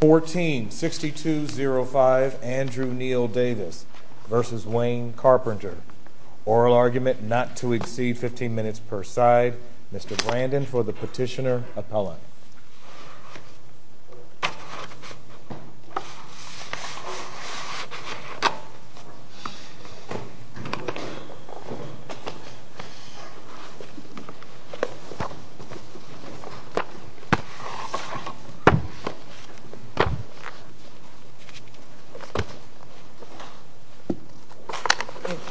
146205 Andrew Neil Davis v. Wayne Carpenter. Oral argument not to exceed 15 minutes per side. Mr. Brandon for the petitioner appellant.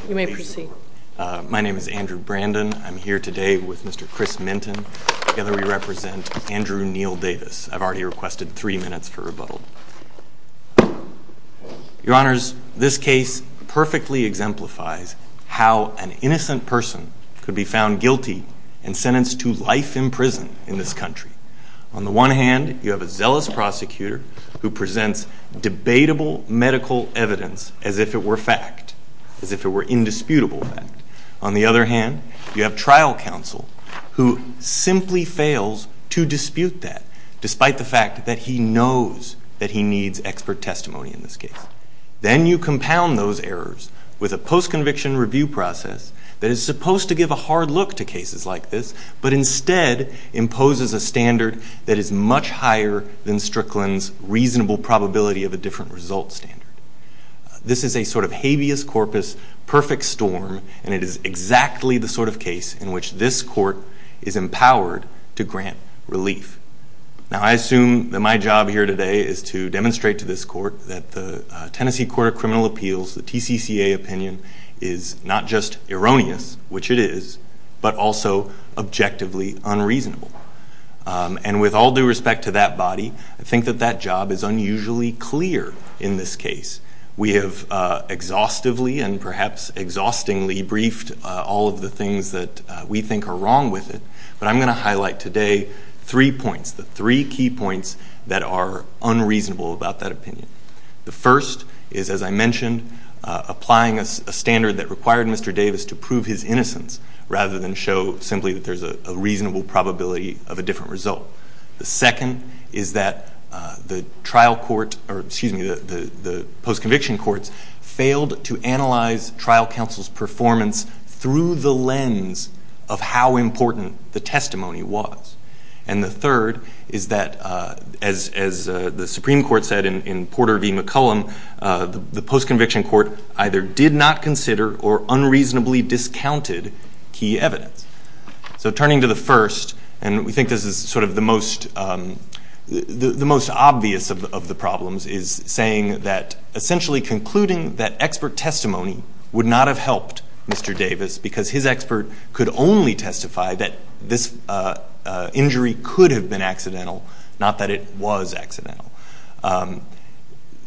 You may proceed. My name is Andrew Brandon. I'm here today with Mr. Chris Minton. Together we represent Andrew Neil Davis. I've already requested three minutes for rebuttal. Your honors, this case perfectly exemplifies how an innocent person could be found guilty and sentenced to life in prison in this case. On the one hand, you have a zealous prosecutor who presents debatable medical evidence as if it were fact, as if it were indisputable fact. On the other hand, you have trial counsel who simply fails to dispute that despite the fact that he knows that he needs expert testimony in this case. Then you compound those errors with a post-conviction review process that is supposed to give a hard look to cases like this, but instead imposes a standard that is much higher than Strickland's reasonable probability of a different result standard. This is a sort of habeas corpus, perfect storm, and it is exactly the sort of case in which this court is empowered to grant relief. Now I assume that my job here today is to demonstrate to this court that the Tennessee Court of Criminal And with all due respect to that body, I think that that job is unusually clear in this case. We have exhaustively and perhaps exhaustingly briefed all of the things that we think are wrong with it, but I'm going to highlight today three points, the three key points that are unreasonable about that opinion. The first is, as I mentioned, applying a standard that required Mr. Davis to prove his innocence rather than show simply that there's a reasonable probability of a different result. The second is that the trial court, or excuse me, the post-conviction courts failed to analyze trial counsel's performance through the lens of how important the testimony was. And the third is that, as the Supreme Court said in Porter v. McCollum, the post-conviction court either did not consider or unreasonably discounted key evidence. So turning to the first, and we think this is sort of the most obvious of the problems, is saying that essentially concluding that expert testimony would not have helped Mr. Davis, because his expert could only testify that this injury could have been accidental, not that it was accidental.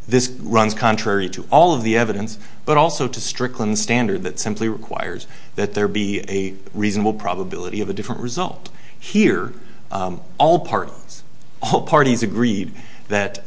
This runs contrary to all of the evidence, but also to Strickland's standard that simply requires that there be a reasonable probability of a different result. Here, all parties, all parties agreed that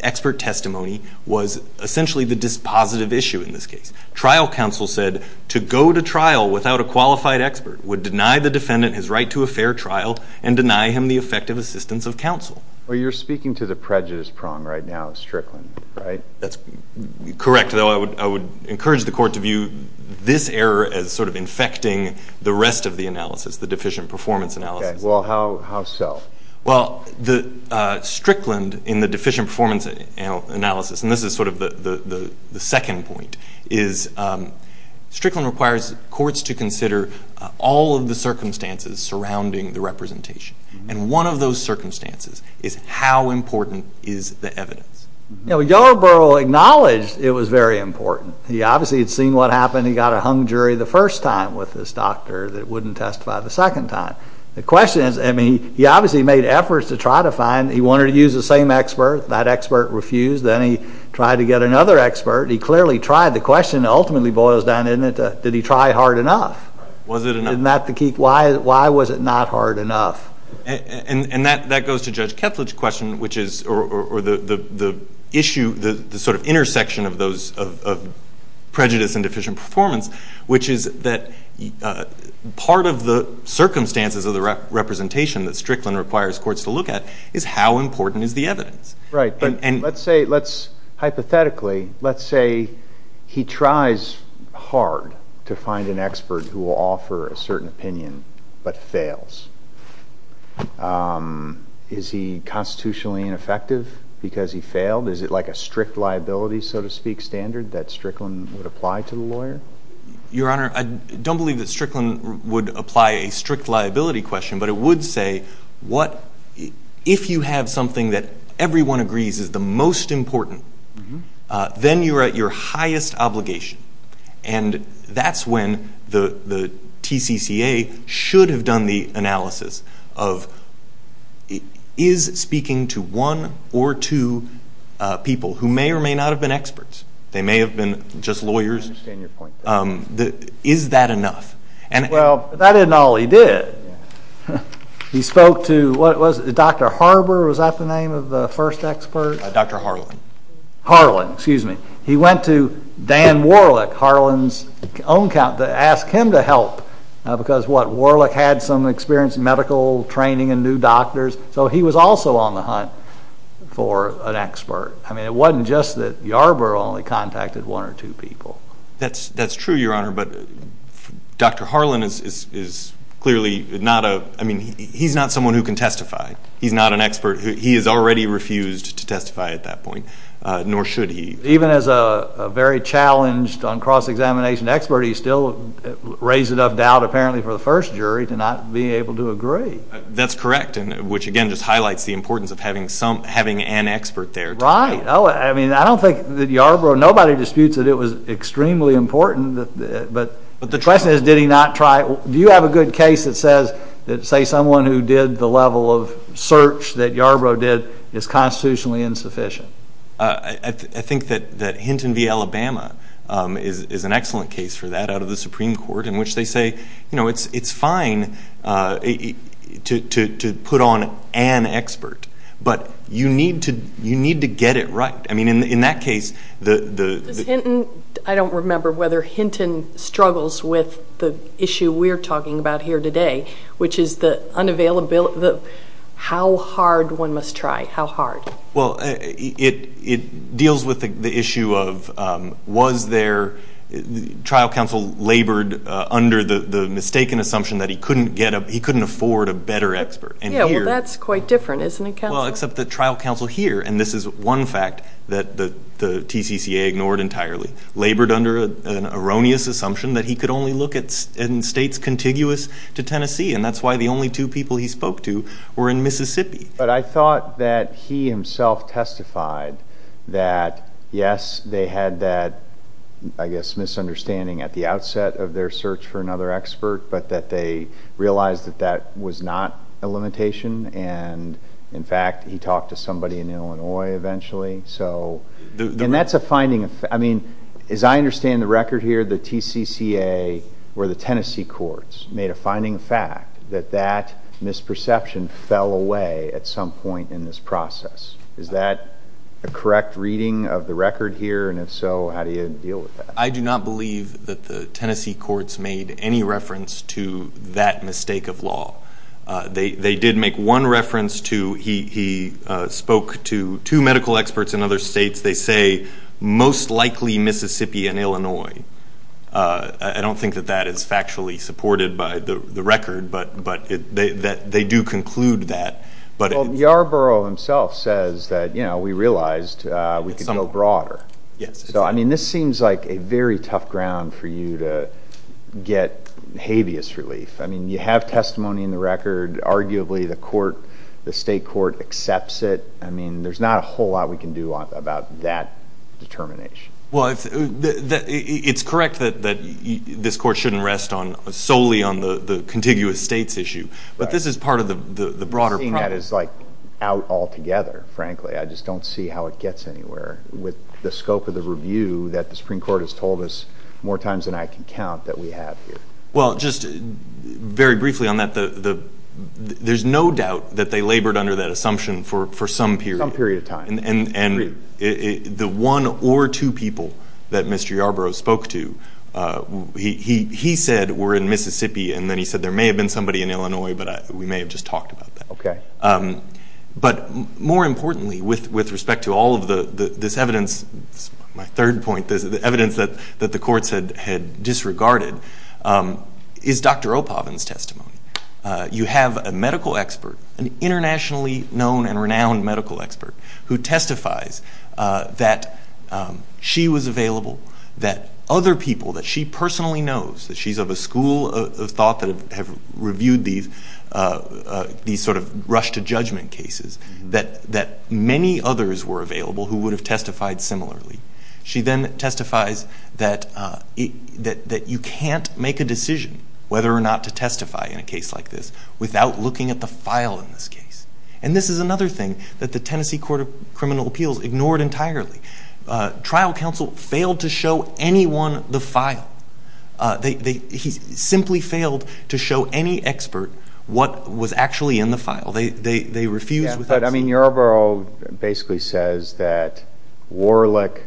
expert testimony was essentially the dispositive issue in this case. Trial counsel said to go to trial without a qualified expert would deny the defendant his right to a fair trial and deny him the effective assistance of counsel. Well, you're speaking to the prejudice prong right now, Strickland, right? That's correct, though I would encourage the Court to view this error as sort of infecting the rest of the analysis, the deficient performance analysis. Well, how so? Well, Strickland, in the deficient performance analysis, and this is sort of the second point, is Strickland requires courts to consider all of the circumstances surrounding the representation. And one of those circumstances is how important is the evidence? You know, Yarbrough acknowledged it was very important. He obviously had seen what happened. He got a hung jury the first time with this doctor that wouldn't testify the second time. The question is, I mean, he obviously made efforts to try to find, he wanted to use the same expert. That expert refused. Then he tried to get another expert. He clearly tried. The question ultimately boils down to did he try hard enough? Was it enough? Why was it not hard enough? And that goes to Judge Kethledge's question, which is, or the issue, the sort of intersection of those, of prejudice and deficient performance, which is that part of the circumstances of the representation that Strickland requires courts to look at is how important is the evidence? Right, but let's say, hypothetically, let's say he tries hard to find an expert who will offer a certain opinion but fails. Is he constitutionally ineffective because he failed? Is it like a strict liability, so to speak, standard that Strickland would apply to the lawyer? Your Honor, I don't believe that Strickland would apply a strict liability question, but it would say, what, if you have something that everyone agrees is the most important, then you are at your highest obligation. And that's when the TCCA should have done the analysis of is speaking to one or two people who may or may not have been experts, they may have been just lawyers, is that enough? Well, that isn't all he did. He spoke to, what was it, Dr. Harber, was that the name of the first expert? Dr. Harlen. Harlen, excuse me. He went to Dan Warlick, Harlen's own, to ask him to help because, what, Warlick had some experience in medical training and knew doctors, so he was also on the hunt for an expert. I mean, it wasn't just that Harber only contacted one or two people. That's true, Your Honor, but Dr. Harlen is clearly not a, I mean, he's not someone who can testify. He's not an expert. He has already refused to testify at that point, nor should he. Even as a very challenged on cross-examination expert, he still raised enough doubt, apparently, for the first jury to not be able to agree. That's correct, which, again, just highlights the importance of having an expert there. Right. I mean, I don't think that Harber or nobody disputes that it was extremely important, but the question is, did he not try, do you have a good case that says, say, someone who did the level of search that Yarbrough did is constitutionally insufficient? I think that Hinton v. Alabama is an excellent case for that, out of the Supreme Court, in which they say, you know, it's fine to put on an expert, but you need to get it right. I mean, in that case, the... Does Hinton, I don't remember whether Hinton struggles with the issue we're talking about here today, which is the unavailability, how hard one must try, how hard. Well, it deals with the issue of, was there, trial counsel labored under the mistaken assumption that he couldn't get a, he couldn't afford a better expert, and here... Yeah, well, that's quite different, isn't it, counsel? Well, except the trial counsel here, and this is one fact that the TCCA ignored entirely, labored under an erroneous assumption that he could only look in states contiguous to Tennessee, and that's why the only two people he spoke to were in Mississippi. But I thought that he himself testified that, yes, they had that, I guess, misunderstanding at the outset of their search for another expert, but that they realized that that was not a limitation, and in fact, he talked to somebody in Illinois eventually, so... And that's a finding of, I mean, as I understand the record here, the TCCA or the Tennessee courts made a finding of fact that that misperception fell away at some point in this process. Is that a correct reading of the record here, and if so, how do you deal with that? I do not believe that the Tennessee courts made any reference to that mistake of law. They did make one reference to, he spoke to two medical experts in other states. They say, most likely Mississippi and Illinois. I don't think that that is factually supported by the record, but they do conclude that, but... Well, Yarborough himself says that, you know, we realized we could go broader, so, I mean, this seems like a very tough ground for you to get habeas relief. I mean, you have testimony in the record. Arguably, the court, the state court accepts it. I mean, there's not a whole lot we can do about that determination. Well, it's correct that this court shouldn't rest solely on the contiguous states issue, but this is part of the broader problem. I'm seeing that as, like, out altogether, frankly. I just don't see how it gets anywhere with the scope of the review that the Supreme Court has told us more times than I can count that we have here. Well, just very briefly on that, there's no doubt that they labored under that assumption for some period of time, and the one or two people that Mr. Yarborough spoke to, he said were in Mississippi, and then he said there may have been somebody in Illinois, but we may have just talked about that. But more importantly, with respect to all of this evidence, my third point, the evidence that the courts had disregarded, is Dr. O'Pavin's testimony. You have a medical expert, an internationally known and renowned medical expert, who testifies that she was available, that other people that she personally knows, that she's of a school of thought that have reviewed these sort of rush-to-judgment cases, that many others were available who would have testified similarly. She then testifies that you can't make a decision, whether or not to testify in a case like this, without looking at the file in this case. And this is another thing that the Tennessee Court of Criminal Appeals ignored entirely. Trial counsel failed to show anyone the file. He simply failed to show any expert what was actually in the file. They refused to... But Yorbaro basically says that Warlick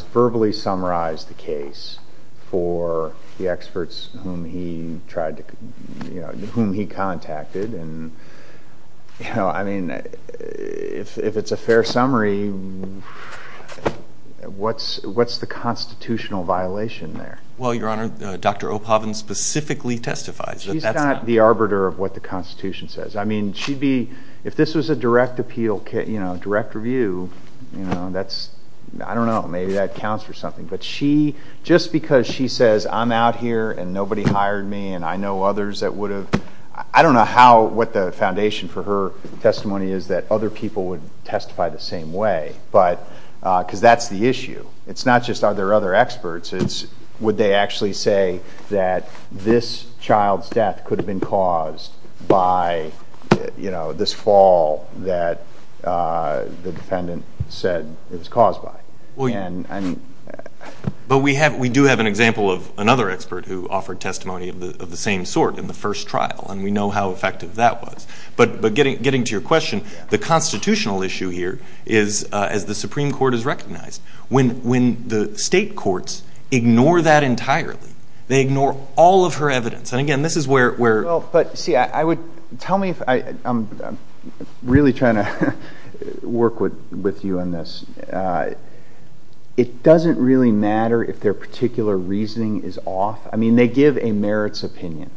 verbally summarized the case for the experts whom he contacted. If it's a fair summary, what's the constitutional violation there? Well, Your Honor, Dr. O'Pavin specifically testifies that that's not... She's not the arbiter of what the Constitution says. I mean, she'd be... If this was a direct appeal, direct review, that's... I don't know, maybe that counts for something. But she... Just because she says, I'm out here and nobody hired me and I know others that would have... I don't know what the foundation for her testimony is that other people would testify the same way, because that's the issue. It's not just are there other experts. Would they actually say that this child's death could have been caused by this fall that the defendant said it was caused by? But we do have an example of another expert who offered testimony of the same sort in the first trial, and we know how effective that was. But getting to your question, the constitutional issue here is, as the Supreme Court has recognized, when the state courts ignore that entirely, they ignore all of her evidence. And again, this is where... But see, I would... Tell me if... I'm really trying to work with you on this. It doesn't really matter if their particular reasoning is off. I mean, they give a merits opinion.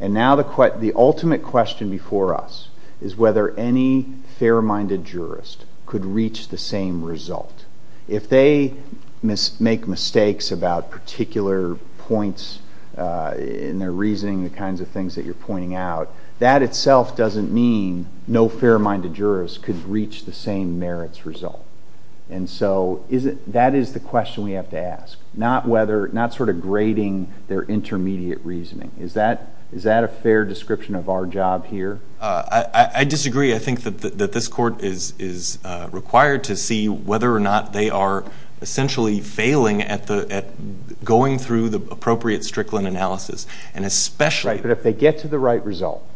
And now the ultimate question before us is whether any fair-minded jurist could reach the same result. If they make mistakes about particular points in their reasoning, the kinds of things that you're pointing out, that itself doesn't mean no fair-minded jurist could reach the same merits result. And so that is the question we have to ask, not whether... Not sort of grading their intermediate reasoning. Is that a fair description of our job here? I disagree. I think that this court is required to see whether or not they are essentially failing at going through the appropriate Strickland analysis. And especially... Right. But if they get to the right result...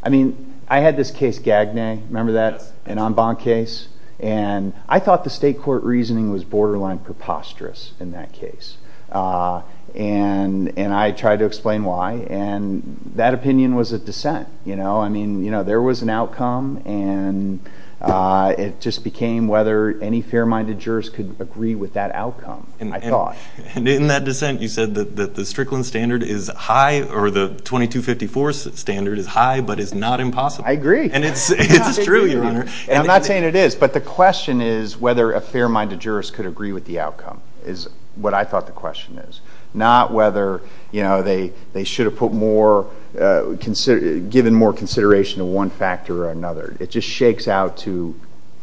I mean, I had this case, Gagne, remember that? An en banc case. And I thought the state court reasoning was borderline preposterous in that case. And I tried to explain why. And that opinion was a dissent. I mean, there was an outcome, and it just became whether any fair-minded jurist could agree with that outcome, I thought. And in that dissent, you said that the Strickland standard is high, or the 2254 standard is high, but is not impossible. I agree. It's true, Your Honor. And I'm not saying it is, but the question is whether a fair-minded jurist could agree with the outcome, is what I thought the question is. Not whether they should have given more consideration to one factor or another. It just shakes out to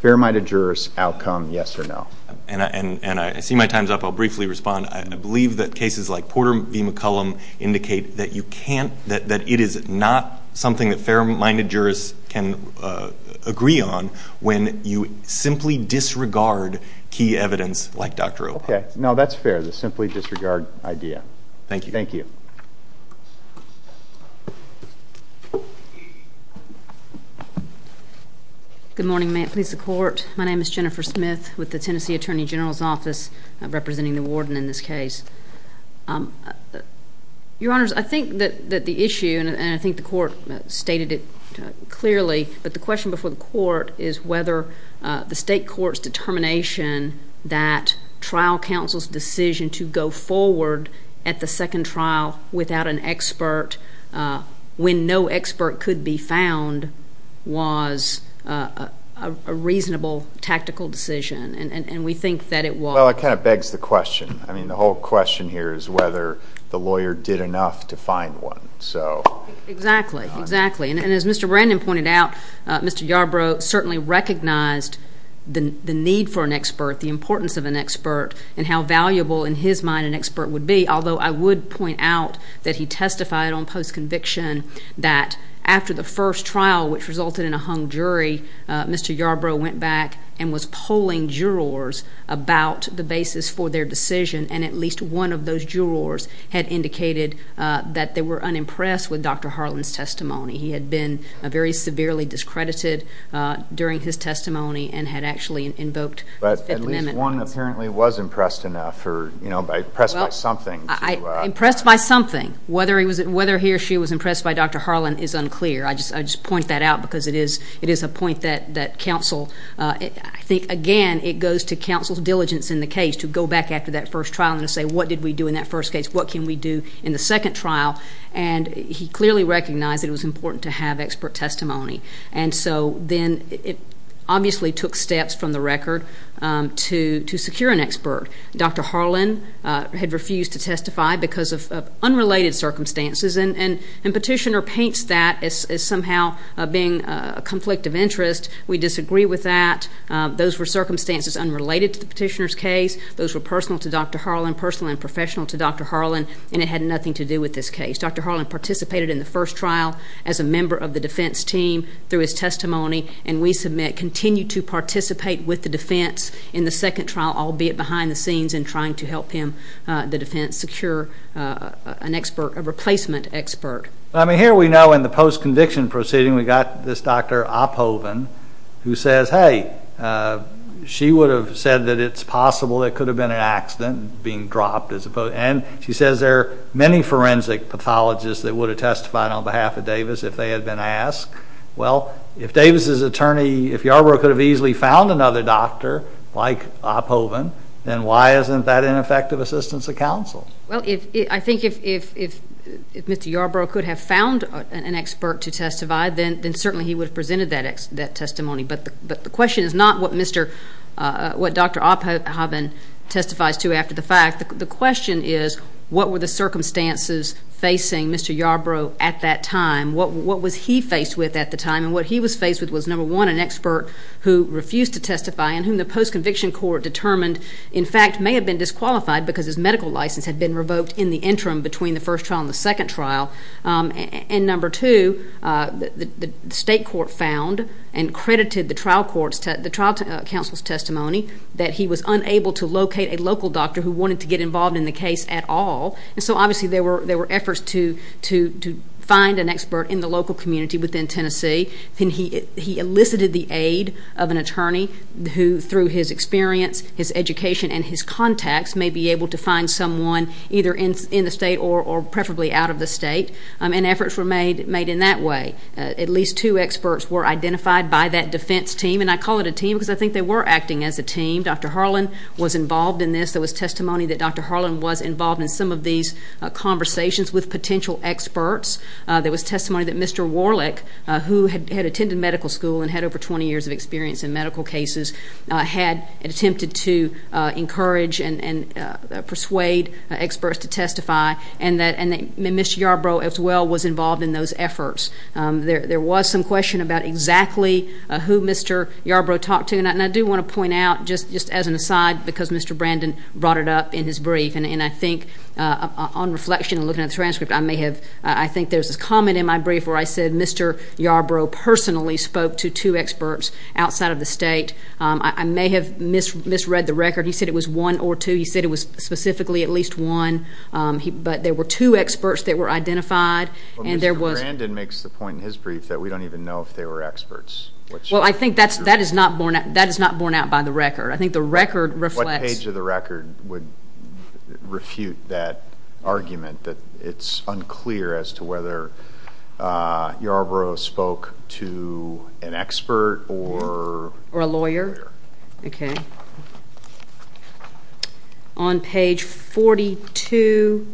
fair-minded jurist outcome, yes or no. And I see my time's up. I'll briefly respond. I believe that cases like Porter v. McCollum indicate that it is not something that fair-minded jurists can agree on when you simply disregard key evidence like Dr. Obama. Okay. No, that's fair. That is a simply disregarded idea. Thank you. Thank you. Good morning. May it please the Court. My name is Jennifer Smith with the Tennessee Attorney General's Office, representing the warden in this case. Your Honors, I think that the issue, and I think the Court stated it clearly, but the decision to go forward at the second trial without an expert when no expert could be found was a reasonable tactical decision, and we think that it was. Well, it kind of begs the question. I mean, the whole question here is whether the lawyer did enough to find one, so... Exactly. Exactly. And as Mr. Brandon pointed out, Mr. Yarbrough certainly recognized the need for an expert, the importance of an expert, and how valuable, in his mind, an expert would be, although I would point out that he testified on post-conviction that after the first trial, which resulted in a hung jury, Mr. Yarbrough went back and was polling jurors about the basis for their decision, and at least one of those jurors had indicated that they were unimpressed with Dr. Harlan's testimony. He had been very severely discredited during his testimony and had actually invoked... But at least one apparently was impressed enough or impressed by something. Impressed by something. Whether he or she was impressed by Dr. Harlan is unclear. I just point that out because it is a point that counsel... I think, again, it goes to counsel's diligence in the case to go back after that first trial and say, what did we do in that first case? What can we do in the second trial? And he clearly recognized that it was important to have expert testimony. And so then it obviously took steps from the record to secure an expert. Dr. Harlan had refused to testify because of unrelated circumstances, and Petitioner paints that as somehow being a conflict of interest. We disagree with that. Those were circumstances unrelated to the Petitioner's case. Those were personal to Dr. Harlan, personal and professional to Dr. Harlan, and it had nothing to do with this case. Dr. Harlan participated in the first trial as a member of the defense team through his testimony, and we submit continued to participate with the defense in the second trial, albeit behind the scenes and trying to help him, the defense, secure an expert, a replacement expert. I mean, here we know in the post-conviction proceeding, we got this Dr. Opphoven who says, hey, she would have said that it's possible it could have been an accident being dropped and she says there are many forensic pathologists that would have testified on behalf of Davis if they had been asked. Well, if Davis's attorney, if Yarbrough could have easily found another doctor like Opphoven, then why isn't that ineffective assistance of counsel? I think if Mr. Yarbrough could have found an expert to testify, then certainly he would have presented that testimony, but the question is not what Dr. Opphoven testifies to after the fact. The question is what were the circumstances facing Mr. Yarbrough at that time? What was he faced with at the time? And what he was faced with was, number one, an expert who refused to testify and whom the post-conviction court determined, in fact, may have been disqualified because his medical license had been revoked in the interim between the first trial and the second trial. And number two, the state court found and credited the trial counsel's testimony that he was unable to locate a local doctor who wanted to get involved in the case at all. And so, obviously, there were efforts to find an expert in the local community within Tennessee. He elicited the aid of an attorney who, through his experience, his education, and his contacts, may be able to find someone either in the state or preferably out of the state. And efforts were made in that way. At least two experts were identified by that defense team, and I call it a team because I think they were acting as a team. Dr. Harlan was involved in this. There was testimony that Dr. Harlan was involved in some of these conversations with potential experts. There was testimony that Mr. Warlick, who had attended medical school and had over 20 years of experience in medical cases, had attempted to encourage and persuade experts to testify, and that Mr. Yarbrough, as well, was involved in those efforts. There was some question about exactly who Mr. Yarbrough talked to, and I do want to point out, just as an aside, because Mr. Brandon brought it up in his brief, and I think on reflection and looking at the transcript, I think there's a comment in my brief where I said Mr. Yarbrough personally spoke to two experts outside of the state. I may have misread the record. He said it was one or two. He said it was specifically at least one, but there were two experts that were identified, and there was... Well, Mr. Brandon makes the point in his brief that we don't even know if they were experts, which... Well, I think that is not borne out by the record. I think the record reflects... What page of the record would refute that argument that it's unclear as to whether Yarbrough spoke to an expert or... Or a lawyer? Okay. Okay. On page 42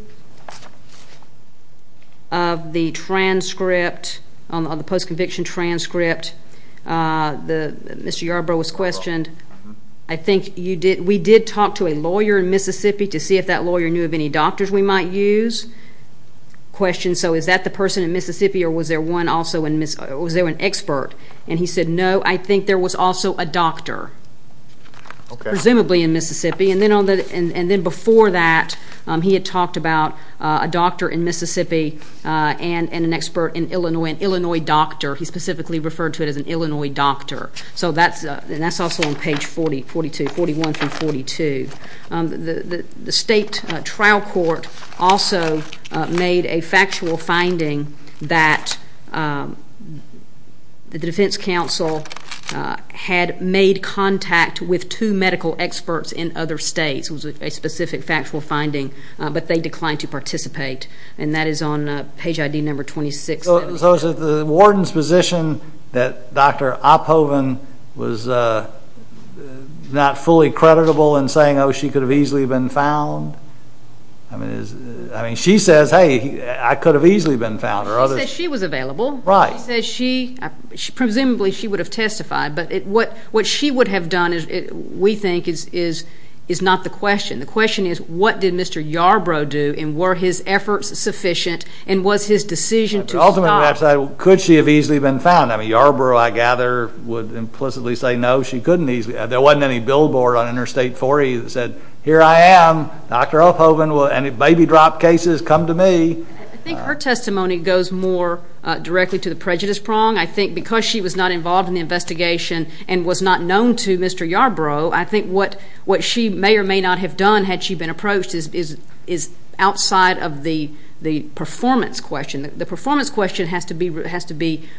of the transcript, of the post-conviction transcript, Mr. Yarbrough was questioned. I think you did... We did talk to a lawyer in Mississippi to see if that lawyer knew of any doctors we might use. Question, so is that the person in Mississippi, or was there one also in... Was there an expert? And he said, no, I think there was also a doctor, presumably in Mississippi, and then before that he had talked about a doctor in Mississippi and an expert in Illinois, an Illinois doctor. He specifically referred to it as an Illinois doctor. So that's also on page 40, 42, 41 through 42. The state trial court also made a factual finding that the defense counsel had made contact with two medical experts in other states. It was a specific factual finding, but they declined to participate, and that is on page ID number 26. So is it the warden's position that Dr. Oppoven was not fully creditable in saying, oh, she could have easily been found? She says, hey, I could have easily been found, or others... She said she was available. Right. She said she, presumably she would have testified, but what she would have done, we think, is not the question. The question is, what did Mr. Yarbrough do, and were his efforts sufficient, and was his decision to stop... But ultimately, perhaps, could she have easily been found? I mean, Yarbrough, I gather, would implicitly say no, she couldn't easily... There wasn't any billboard on Interstate 40 that said, here I am, Dr. Oppoven, will any baby drop cases come to me? I think her testimony goes more directly to the prejudice prong. I think because she was not involved in the investigation and was not known to Mr. Yarbrough, I think what she may or may not have done, had she been approached, is outside of the performance question. The performance question has to be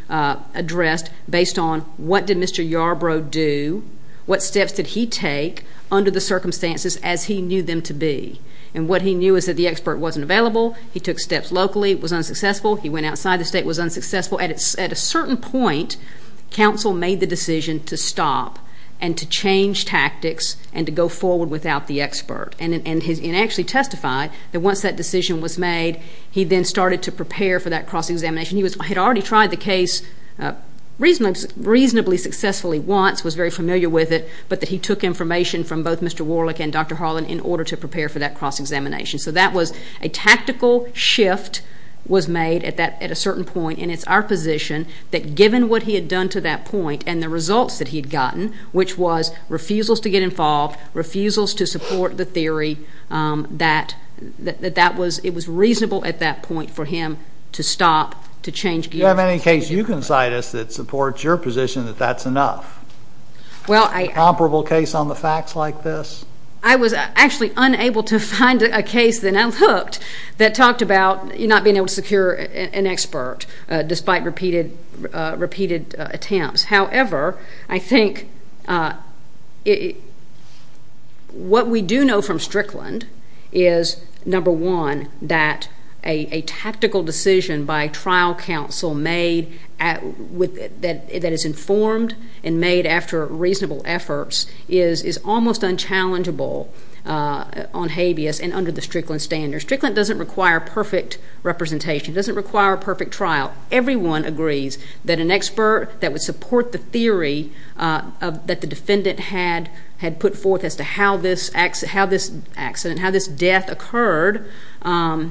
addressed based on, what did Mr. Yarbrough do? What steps did he take under the circumstances as he knew them to be? And what he knew is that the expert wasn't available. He took steps locally. It was unsuccessful. He went outside the state. It was unsuccessful. At a certain point, counsel made the decision to stop and to change tactics and to go forward without the expert. And actually testified that once that decision was made, he then started to prepare for that cross-examination. He had already tried the case reasonably successfully once, was very familiar with it, but that he took information from both Mr. Warlick and Dr. Harlan in order to prepare for that cross-examination. So that was a tactical shift was made at a certain point, and it's our position that given what he had done to that point and the results that he had gotten, which was refusals to get involved, refusals to support the theory, that it was reasonable at that point for him to stop, to change gears. Do you have any case you can cite us that supports your position that that's enough? Well, I... Comparable case on the facts like this? I was actually unable to find a case that I looked that talked about not being able to secure an expert despite repeated attempts. However, I think what we do know from Strickland is, number one, that a tactical decision by trial counsel made that is informed and made after reasonable efforts is almost unchallengeable on habeas and under the Strickland standards. Strickland doesn't require perfect representation, doesn't require a perfect trial. Everyone agrees that an expert that would support the theory that the defendant had put forth as to how this accident, how this death occurred, that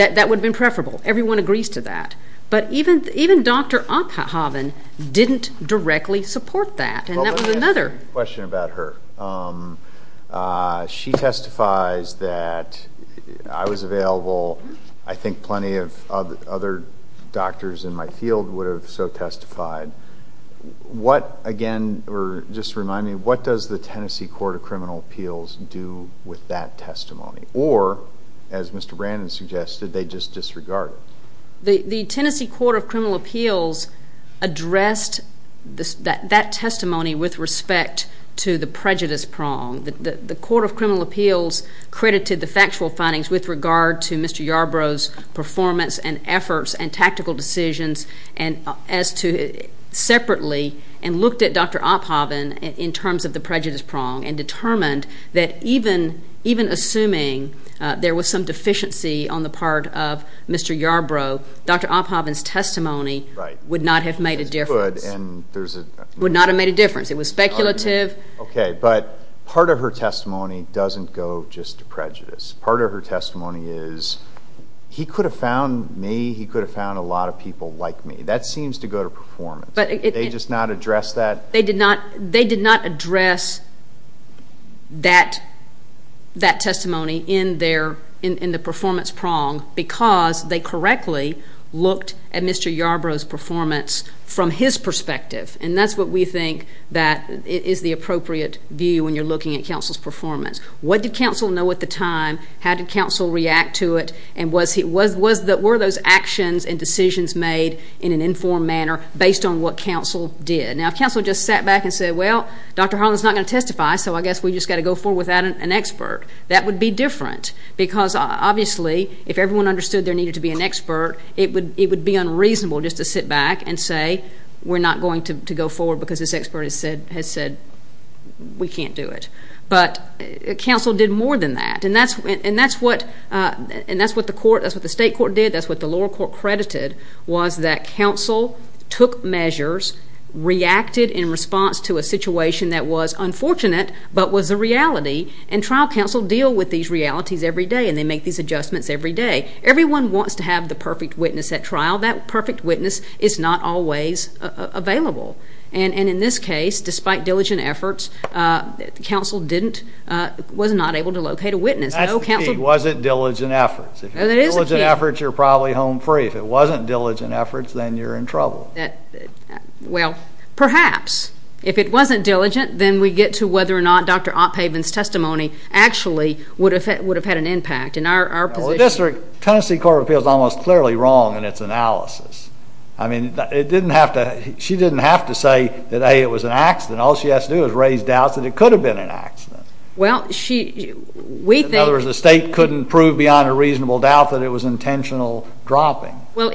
would have been preferable. Everyone agrees to that. But even Dr. Oppenhaven didn't directly support that, and that was another... Well, let me ask you a question about her. She testifies that I was available. I think plenty of other doctors in my field would have so testified. What again, or just remind me, what does the Tennessee Court of Criminal Appeals do with that testimony? Or as Mr. Brandon suggested, they just disregard it. The Tennessee Court of Criminal Appeals addressed that testimony with respect to the prejudice prong. The Court of Criminal Appeals credited the factual findings with regard to Mr. Yarbrough's performance and efforts and tactical decisions separately and looked at Dr. Oppenhaven in terms of the prejudice prong and determined that even assuming there was some deficiency on the part of Mr. Yarbrough, Dr. Oppenhaven's testimony would not have made a difference. Would not have made a difference. It was speculative. Okay, but part of her testimony doesn't go just to prejudice. Part of her testimony is, he could have found me, he could have found a lot of people like me. That seems to go to performance. They just not address that? They did not address that testimony in the performance prong because they correctly looked at Mr. Yarbrough's performance from his perspective. And that's what we think that is the appropriate view when you're looking at counsel's performance. What did counsel know at the time? How did counsel react to it? And were those actions and decisions made in an informed manner based on what counsel did? Now, if counsel just sat back and said, well, Dr. Harlan's not going to testify, so I guess we just got to go forward without an expert, that would be different because obviously if everyone understood there needed to be an expert, it would be unreasonable just to sit back and say we're not going to go forward because this expert has said we can't do it. But counsel did more than that and that's what the state court did, that's what the reacted in response to a situation that was unfortunate but was a reality and trial counsel deal with these realities every day and they make these adjustments every day. Everyone wants to have the perfect witness at trial. That perfect witness is not always available. And in this case, despite diligent efforts, counsel was not able to locate a witness. That's the key, was it diligent efforts? If it was diligent efforts, you're probably home free. If it wasn't diligent efforts, then you're in trouble. Well, perhaps. If it wasn't diligent, then we get to whether or not Dr. Oppaven's testimony actually would have had an impact. Well, the Tennessee Court of Appeals is almost clearly wrong in its analysis. She didn't have to say that A, it was an accident. All she has to do is raise doubts that it could have been an accident. In other words, the state couldn't prove beyond a reasonable doubt that it was intentional dropping. Well,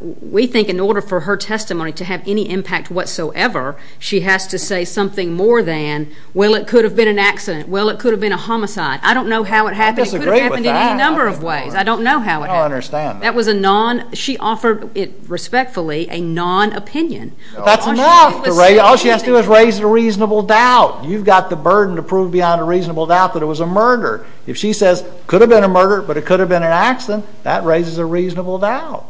we think in order for her testimony to have any impact whatsoever, she has to say something more than, well, it could have been an accident. Well, it could have been a homicide. I don't know how it happened. I disagree with that. It could have happened in any number of ways. I don't know how it happened. I don't understand that. That was a non, she offered it respectfully, a non-opinion. That's enough. All she has to do is raise a reasonable doubt. You've got the burden to prove beyond a reasonable doubt that it was a murder. If she says, could have been a murder, but it could have been an accident, that raises a reasonable doubt.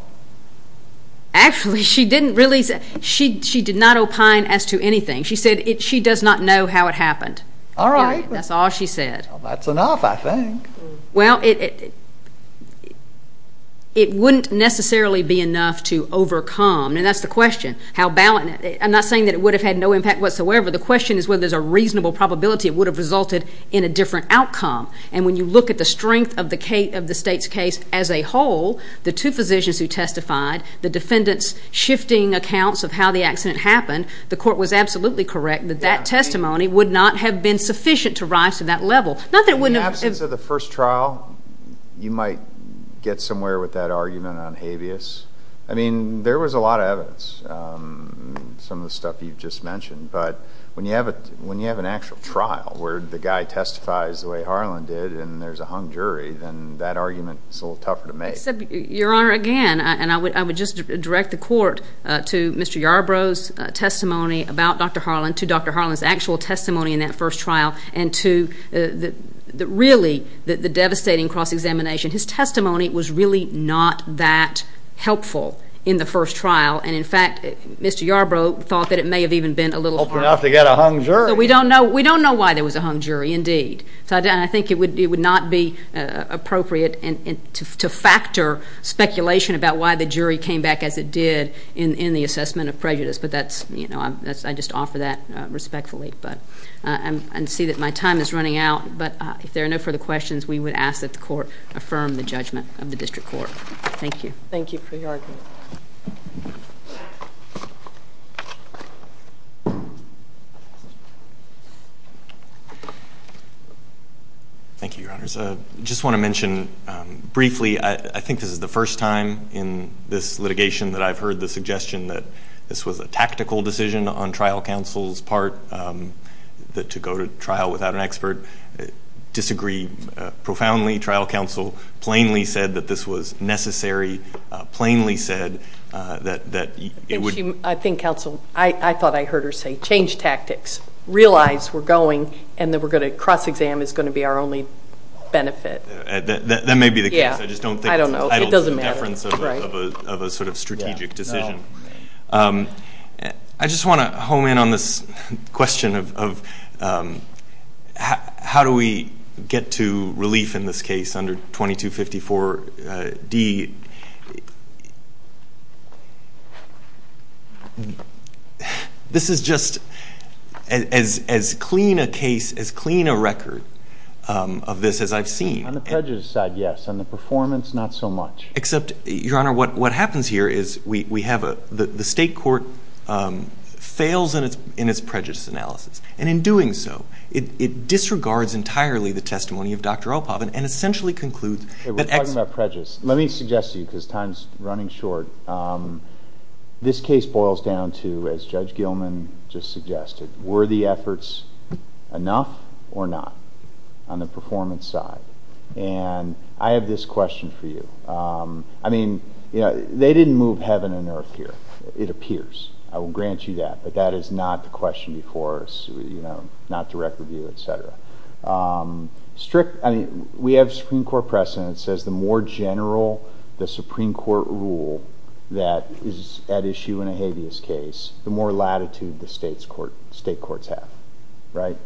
Actually, she didn't really, she did not opine as to anything. She said she does not know how it happened. All right. That's all she said. That's enough, I think. Well, it wouldn't necessarily be enough to overcome, and that's the question. How balanced, I'm not saying that it would have had no impact whatsoever. The question is whether there's a reasonable probability it would have resulted in a different outcome. When you look at the strength of the state's case as a whole, the two physicians who testified, the defendants shifting accounts of how the accident happened, the court was absolutely correct that that testimony would not have been sufficient to rise to that level. Not that it wouldn't have. In the absence of the first trial, you might get somewhere with that argument on habeas. There was a lot of evidence, some of the stuff you've just mentioned, but when you have an actual trial where the guy testifies the way Harlan did, and there's a hung jury, then that argument is a little tougher to make. Your Honor, again, and I would just direct the court to Mr. Yarbrough's testimony about Dr. Harlan, to Dr. Harlan's actual testimony in that first trial, and to really the devastating cross-examination. His testimony was really not that helpful in the first trial, and in fact, Mr. Yarbrough thought that it may have even been a little harder. So we don't know why there was a hung jury, indeed, and I think it would not be appropriate to factor speculation about why the jury came back as it did in the assessment of prejudice, but I just offer that respectfully, and see that my time is running out, but if there are no further questions, we would ask that the court affirm the judgment of the District Court. Thank you. Thank you for your argument. Thank you, Your Honors. Just want to mention briefly, I think this is the first time in this litigation that I've heard the suggestion that this was a tactical decision on trial counsel's part, to go to trial without an expert. Disagree profoundly. Any trial counsel plainly said that this was necessary, plainly said that it would I think counsel, I thought I heard her say, change tactics. Realize we're going, and that we're going to cross-exam is going to be our only benefit. That may be the case. I just don't think it's entitled to the deference of a sort of strategic decision. I just want to home in on this question of how do we get to relief in this case under 2254 D. This is just as clean a case, as clean a record of this as I've seen. On the prejudice side, yes. On the performance, not so much. Except, Your Honor, what happens here is we have a, the state court fails in its prejudice analysis. And in doing so, it disregards entirely the testimony of Dr. Alpov, and essentially concludes that- We're talking about prejudice. Let me suggest to you, because time's running short. This case boils down to, as Judge Gilman just suggested, were the efforts enough or not on the performance side? And I have this question for you. I mean, they didn't move heaven and earth here. It appears. I will grant you that. But that is not the question before us. Not direct review, et cetera. We have Supreme Court precedent that says the more general the Supreme Court rule that is at issue in a habeas case, the more latitude the state courts have, right?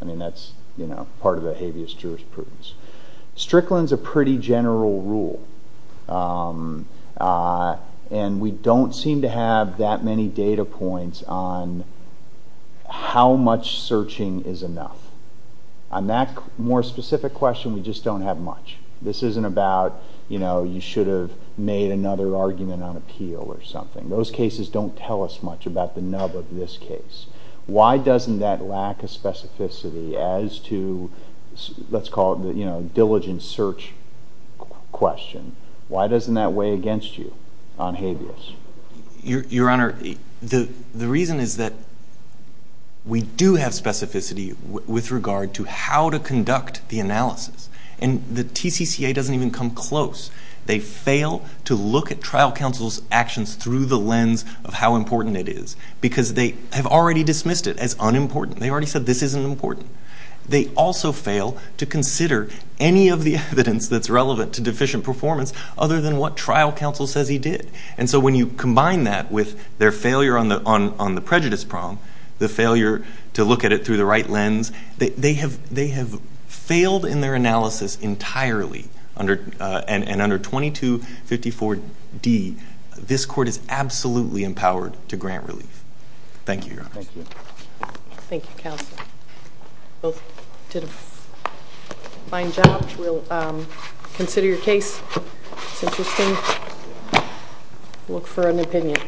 I mean, that's, you know, part of the habeas jurisprudence. Strickland's a pretty general rule. And we don't seem to have that many data points on how much searching is enough. On that more specific question, we just don't have much. This isn't about, you know, you should have made another argument on appeal or something. Those cases don't tell us much about the nub of this case. Why doesn't that lack a specificity as to, let's call it, you know, diligent search question? Why doesn't that weigh against you on habeas? Your Honor, the reason is that we do have specificity with regard to how to conduct the analysis. And the TCCA doesn't even come close. They fail to look at trial counsel's actions through the lens of how important it is. Because they have already dismissed it as unimportant. They already said this isn't important. They also fail to consider any of the evidence that's relevant to deficient performance other than what trial counsel says he did. And so when you combine that with their failure on the prejudice problem, the failure to look at it through the right lens, they have failed in their analysis entirely. And under 2254D, this court is absolutely empowered to grant relief. Thank you, Your Honor. Thank you. Thank you, counsel. Both did a fine job. We'll consider your case. It's interesting. Look for an opinion.